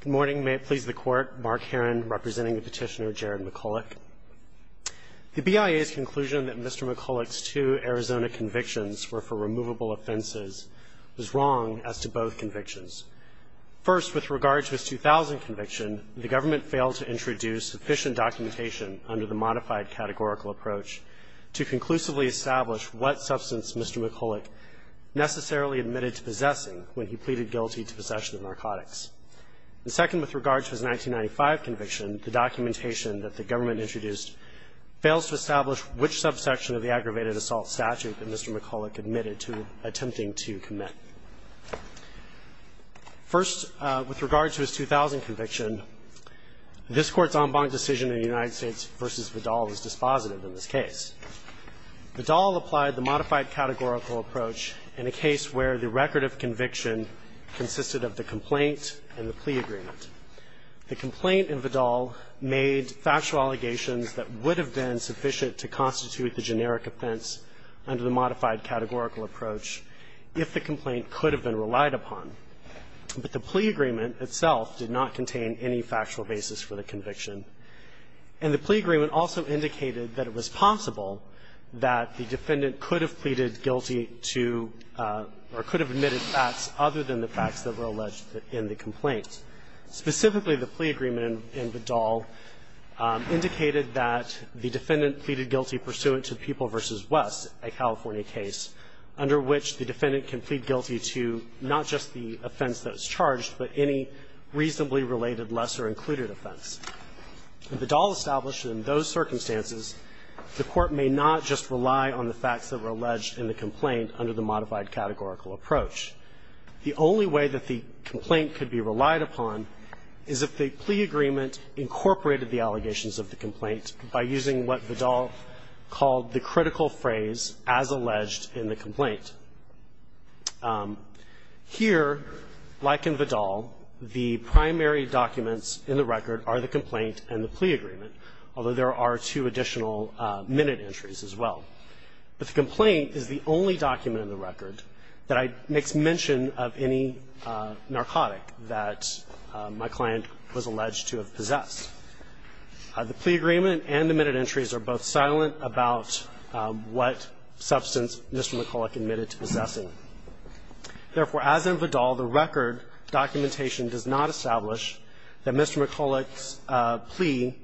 Good morning. May it please the Court, Mark Herron representing the petitioner Jared McCullock. The BIA's conclusion that Mr. McCullock's two Arizona convictions were for removable offenses was wrong as to both convictions. First, with regard to his 2000 conviction, the government failed to introduce sufficient documentation under the modified categorical approach to conclusively establish what substance Mr. McCullock necessarily admitted to possessing when he pleaded guilty to possession of narcotics. The second, with regard to his 1995 conviction, the documentation that the government introduced fails to establish which subsection of the aggravated assault statute that Mr. McCullock admitted to attempting to commit. First, with regard to his 2000 conviction, this Court's en banc decision in the United States v. Vidal was dispositive in this case. Vidal applied the modified categorical approach in a case where the record of conviction consisted of the complaint and the plea agreement. The complaint in Vidal made factual allegations that would have been sufficient to constitute the generic offense under the modified categorical approach if the complaint could have been relied upon. But the plea agreement itself did not contain any factual basis for the conviction. And the plea agreement also indicated that it was possible that the defendant could have pleaded guilty to or could have admitted facts other than the facts that were alleged in the complaint. Specifically, the plea agreement in Vidal indicated that the defendant pleaded guilty pursuant to People v. West, a California case, under which the defendant can plead guilty to not just the offense that was charged, but any reasonably related, lesser-included offense. Vidal established that in those circumstances, the Court may not just rely on the facts that were alleged in the complaint under the modified categorical approach. The only way that the complaint could be relied upon is if the plea agreement incorporated the allegations of the complaint by using what Vidal called the critical phrase, as alleged in the complaint. Here, like in Vidal, the primary documents in the record are the complaint and the plea agreement, although there are two additional minute entries as well. But the complaint is the only document in the record that makes mention of any narcotic that my client was alleged to have possessed. The plea agreement and the minute entries are both silent about what substance Mr. McCulloch admitted to possessing. Therefore, as in Vidal, the record documentation does not establish that Mr. McCulloch's plea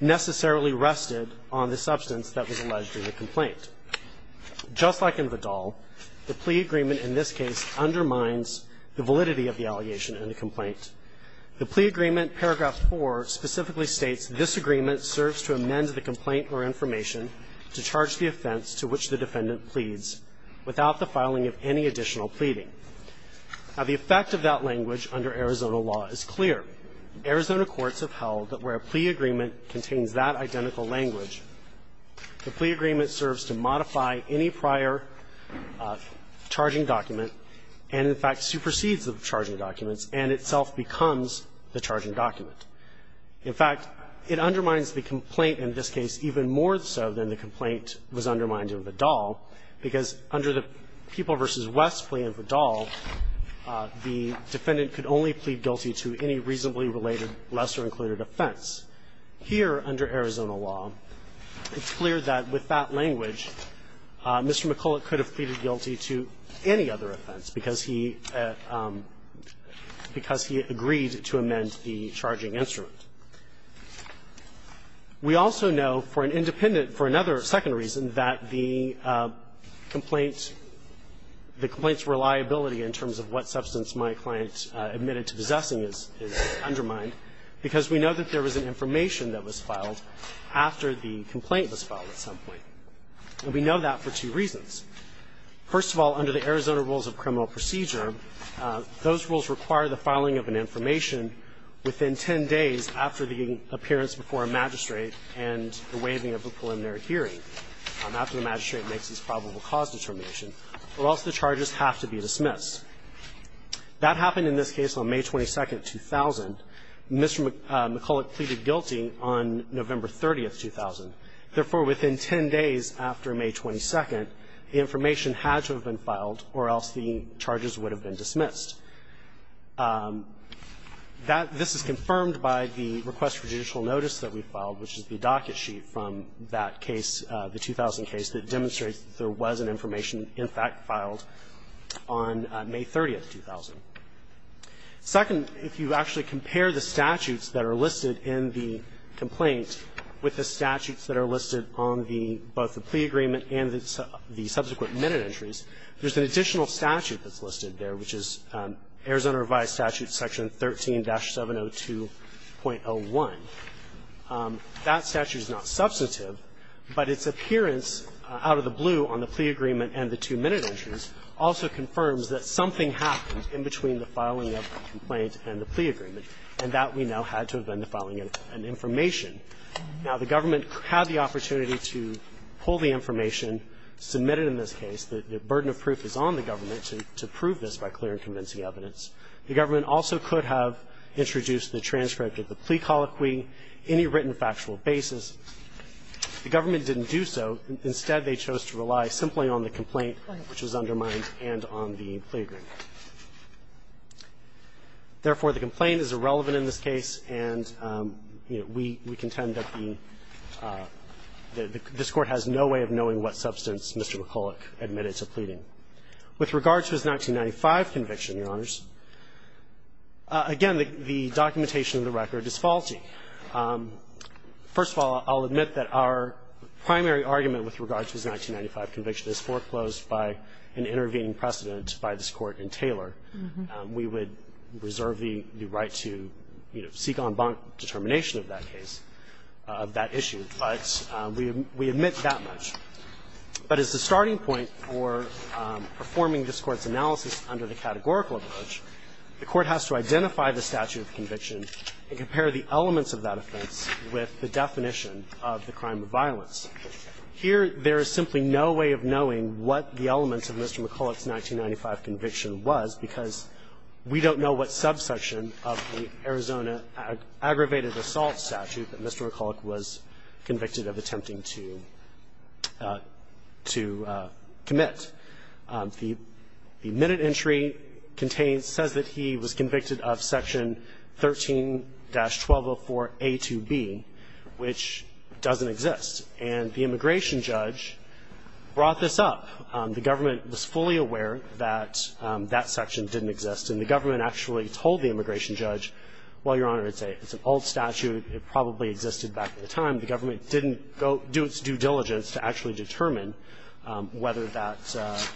necessarily rested on the substance that was alleged in the complaint. Just like in Vidal, the plea agreement in this case undermines the validity of the allegation in the complaint. The plea agreement, paragraph 4, specifically states, This agreement serves to amend the complaint or information to charge the offense to which the defendant pleads without the filing of any additional pleading. Now, the effect of that language under Arizona law is clear. Arizona courts have held that where a plea agreement contains that identical language, the plea agreement serves to modify any prior charging document and, in fact, supersedes the charging documents and itself becomes the charging document. In fact, it undermines the complaint in this case even more so than the complaint was undermined in Vidal, because under the People v. West plea in Vidal, the defendant could only plead guilty to any reasonably related, lesser-included offense. Here, under Arizona law, it's clear that with that language, Mr. McCulloch could have pleaded guilty to any other offense because he agreed to amend the charging instrument. We also know for an independent, for another second reason, that the complaint the complaint's reliability in terms of what substance my client admitted to possessing is undermined because we know that there was an information that was filed after the complaint was filed at some point. And we know that for two reasons. First of all, under the Arizona rules of criminal procedure, those rules require the filing of an information within 10 days after the appearance before a magistrate and the waiving of a preliminary hearing, after the magistrate makes his probable cause determination, or else the charges have to be dismissed. That happened in this case on May 22nd, 2000. Mr. McCulloch pleaded guilty on November 30th, 2000. Therefore, within 10 days after May 22nd, the information had to have been filed or else the charges would have been dismissed. That this is confirmed by the request for judicial notice that we filed, which is the docket sheet from that case, the 2000 case, that demonstrates that there was an information in fact filed on May 30th, 2000. Second, if you actually compare the statutes that are listed in the complaint with the statutes that are listed on the both the plea agreement and the subsequent minute entries, there's an additional statute that's listed there, which is Arizona revised statute section 13-702.01. That statute is not substantive, but its appearance out of the blue on the plea agreement and the two minute entries also confirms that something happened in between the filing of the complaint and the plea agreement, and that we now had to have been the filing of an information. Now, the government had the opportunity to pull the information submitted in this case. The burden of proof is on the government to prove this by clear and convincing evidence. The government also could have introduced the transcript of the plea colloquy, any written factual basis. The government didn't do so. Instead, they chose to rely simply on the complaint, which was undermined, and on the plea agreement. Therefore, the complaint is irrelevant in this case, and, you know, we contend that the – this Court has no way of knowing what substance Mr. McCulloch admitted to pleading. With regard to his 1995 conviction, Your Honors, again, the documentation of the record is faulty. First of all, I'll admit that our primary argument with regard to his 1995 conviction is foreclosed by an intervening precedent by this Court in Taylor. We would reserve the right to, you know, seek en banc determination of that case, of that issue. But we admit that much. But as the starting point for performing this Court's analysis under the categorical approach, the Court has to identify the statute of conviction and compare the elements of that offense with the definition of the crime of violence. Here, there is simply no way of knowing what the elements of Mr. McCulloch's 1995 conviction was because we don't know what subsection of the Arizona aggravated assault statute that Mr. McCulloch was convicted of attempting to commit. The minute entry contains – says that he was convicted of Section 13-1204a to b, which doesn't exist. And the immigration judge brought this up. The government was fully aware that that section didn't exist, and the government actually told the immigration judge, well, Your Honor, it's an old statute. It probably existed back at the time. The government didn't go – do its due diligence to actually determine whether that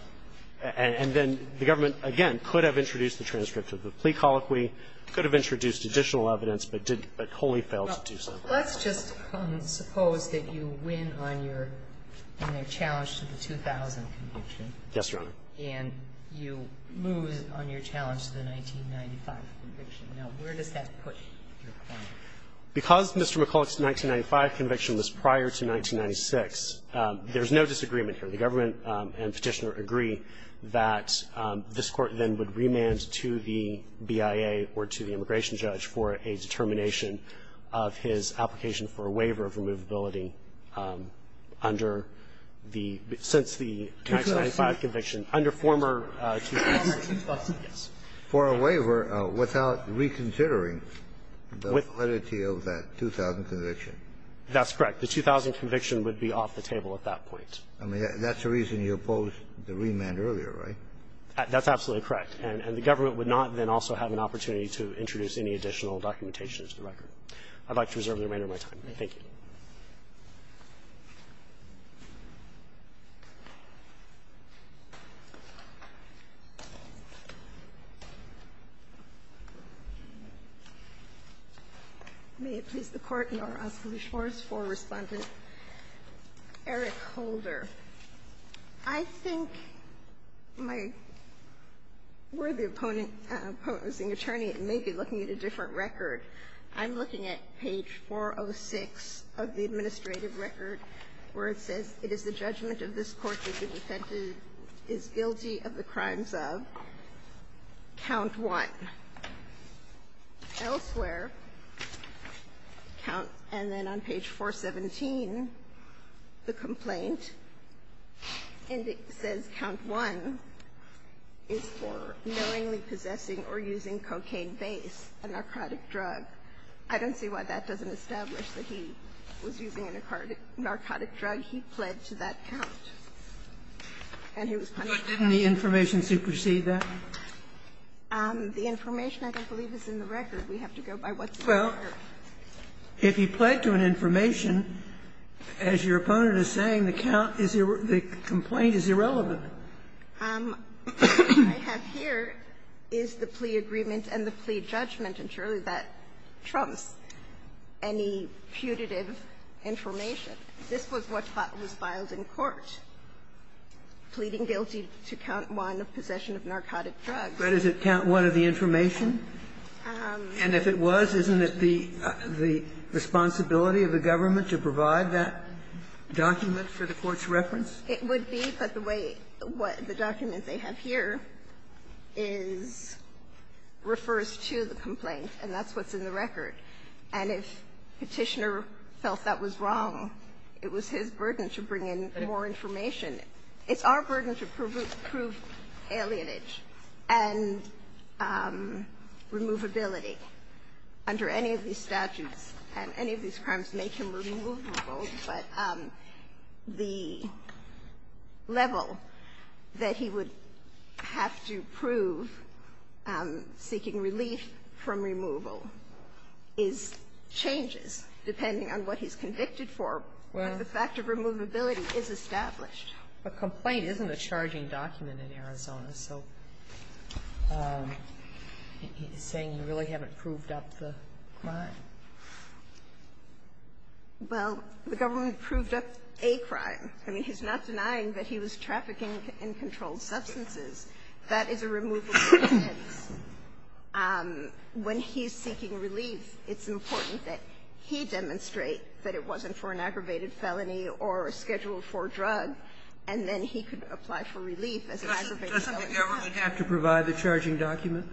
– and then the government, again, could have introduced the transcript of the plea colloquy, could have introduced additional evidence, but wholly failed to do so. Let's just suppose that you win on your – in a challenge to the 2000 conviction. Yes, Your Honor. And you lose on your challenge to the 1995 conviction. Now, where does that put your claim? Because Mr. McCulloch's 1995 conviction was prior to 1996, there's no disagreement here. The government and Petitioner agree that this Court then would remand to the BIA or to the immigration judge for a determination of his application for a waiver of removability under the – since the 1995 conviction, under former 2006. Yes. For a waiver without reconsidering the validity of that 2000 conviction. That's correct. The 2000 conviction would be off the table at that point. I mean, that's the reason you opposed the remand earlier, right? That's absolutely correct. And the government would not then also have an opportunity to introduce any additional documentation to the record. I'd like to reserve the remainder of my time. Thank you. May it please the Court, Your Honor. I'll ask for the scores for Respondent Eric Holder. I think my worthy opposing attorney may be looking at a different record. I'm looking at page 406 of the administrative record where it says, it is the judgment of this Court that the defendant is guilty of the crimes of, count 1. Elsewhere, count – and then on page 417, the complaint, and it says count 1 is for knowingly possessing or using cocaine base, a narcotic drug. I don't see why that doesn't establish that he was using a narcotic drug. He pled to that count. And he was punished. But didn't the information supersede that? The information, I don't believe, is in the record. We have to go by what's in the record. Well, if he pled to an information, as your opponent is saying, the count is irrelevant – the complaint is irrelevant. What I have here is the plea agreement and the plea judgment, and surely that trumps any putative information. This was what was filed in court, pleading guilty to count 1 of possession of narcotic drugs. But does it count 1 of the information? And if it was, isn't it the responsibility of the government to provide that document for the Court's reference? It would be, but the way what the documents they have here is – refers to the complaint, and that's what's in the record. And if Petitioner felt that was wrong, it was his burden to bring in more information. It's our burden to prove alienage and removability under any of these statutes, and any of these crimes make him removable. But the level that he would have to prove seeking relief from removal is – changes depending on what he's convicted for. But the fact of removability is established. A complaint isn't a charging document in Arizona, so he's saying you really haven't proved up the crime. Well, the government proved up a crime. I mean, he's not denying that he was trafficking in controlled substances. That is a removable offense. When he's seeking relief, it's important that he demonstrate that it wasn't for an aggravated felony or scheduled for a drug, and then he could apply for relief as an aggravated felony. Doesn't the government have to provide the charging document?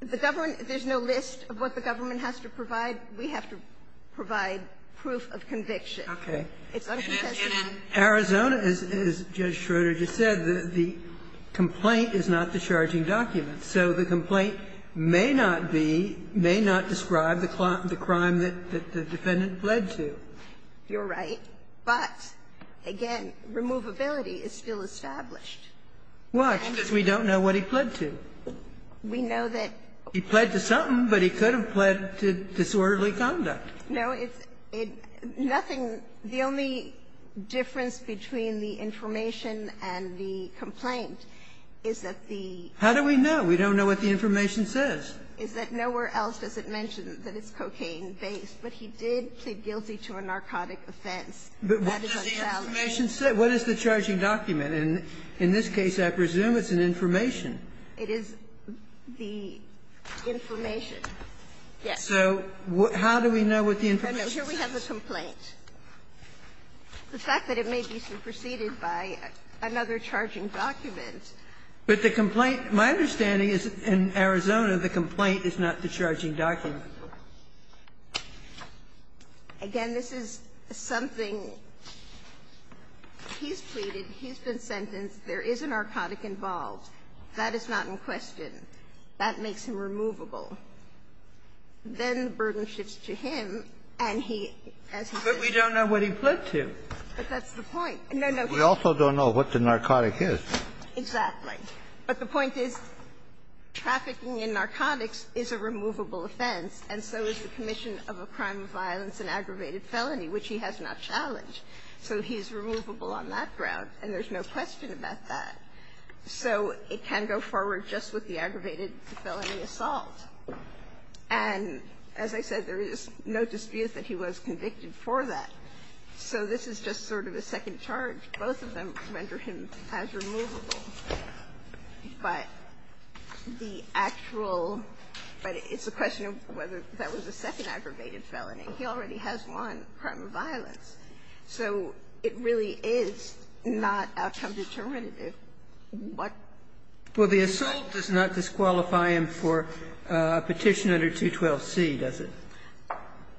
The government – there's no list of what the government has to provide. We have to provide proof of conviction. Okay. It's uncontested. In Arizona, as Judge Schroeder just said, the complaint is not the charging document. So the complaint may not be – may not describe the crime that the defendant had pled to. You're right. But, again, removability is still established. Why? Because we don't know what he pled to. We know that – He pled to something, but he could have pled to disorderly conduct. No, it's – nothing – the only difference between the information and the complaint is that the – How do we know? We don't know what the information says. Is that nowhere else does it mention that it's cocaine-based, but he did plead guilty to a narcotic offense. That is unfounded. But what does the information say? What is the charging document? And in this case, I presume it's an information. It is the information. Yes. So how do we know what the information says? No, no. Here we have the complaint. The fact that it may be superseded by another charging document. But the complaint – my understanding is in Arizona the complaint is not the charging document. Again, this is something – he's pleaded, he's been sentenced, there is a narcotic involved. That is not in question. That makes him removable. Then the burden shifts to him, and he, as he says – But we don't know what he pled to. But that's the point. No, no. We also don't know what the narcotic is. Exactly. But the point is trafficking in narcotics is a removable offense, and so is the commission of a crime of violence and aggravated felony, which he has not challenged. So he's removable on that ground, and there's no question about that. So it can go forward just with the aggravated felony assault. And as I said, there is no dispute that he was convicted for that. So this is just sort of a second charge. Both of them render him as removable, but the actual – but it's a question of whether that was a second aggravated felony. He already has one, a crime of violence. So it really is not outcome determinative. What – Well, the assault does not disqualify him for a petition under 212C, does it?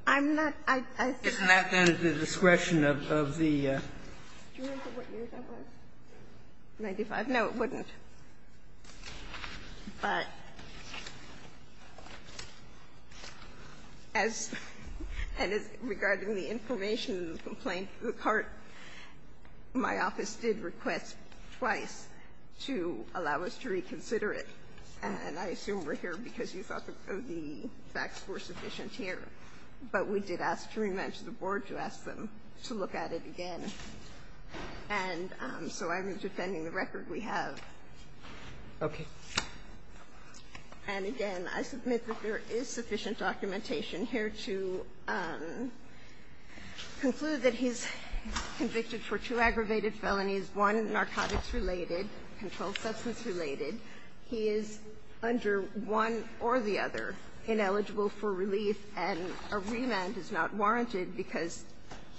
I'm not – I – Isn't that then at the discretion of the – Do you remember what year that was? 1995? No, it wouldn't. But as – and regarding the information in the complaint, the court, my office did request twice to allow us to reconsider it. And I assume we're here because you thought the facts were sufficient here. But we did ask to rematch the board to ask them to look at it again. And so I'm defending the record we have. Okay. And again, I submit that there is sufficient documentation here to conclude that he's convicted for two aggravated felonies, one narcotics-related, controlled substance-related. He is under one or the other ineligible for relief, and a remand is not warranted because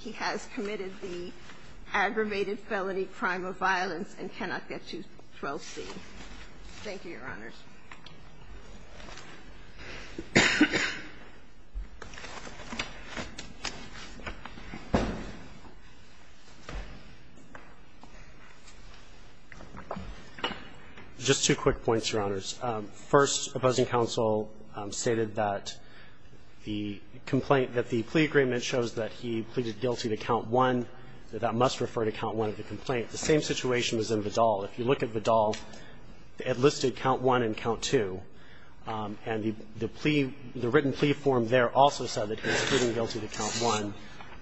he has committed the aggravated felony, crime of violence, and cannot get to 12C. Thank you, Your Honors. Just two quick points, Your Honors. First, opposing counsel stated that the complaint – that the plea agreement shows that he pleaded guilty to count one, that that must refer to count one of the complaint. The same situation was in Vidal. If you look at Vidal, it listed count one and count two. And it says count one and count two. And the plea – the written plea form there also said that he's pleading guilty to count one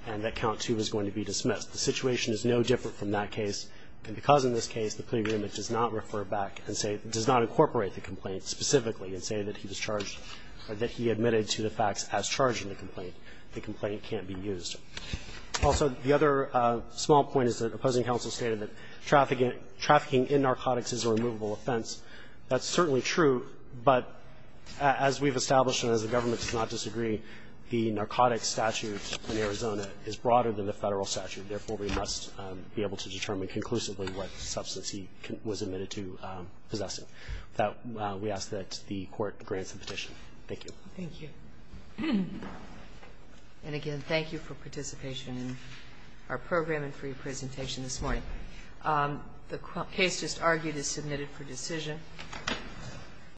and that count two is going to be dismissed. The situation is no different from that case, and because in this case the plea agreement does not refer back and say – does not incorporate the complaint specifically and say that he was charged or that he admitted to the facts as charged in the complaint, the complaint can't be used. Also, the other small point is that opposing counsel stated that trafficking in narcotics is a removable offense. That's certainly true, but as we've established and as the government does not disagree, the narcotics statute in Arizona is broader than the Federal statute. Therefore, we must be able to determine conclusively what substance he was admitted to possessing. With that, we ask that the Court grants the petition. Thank you. Thank you. And again, thank you for participation in our program and for your presentation this morning. The case just argued is submitted for decision.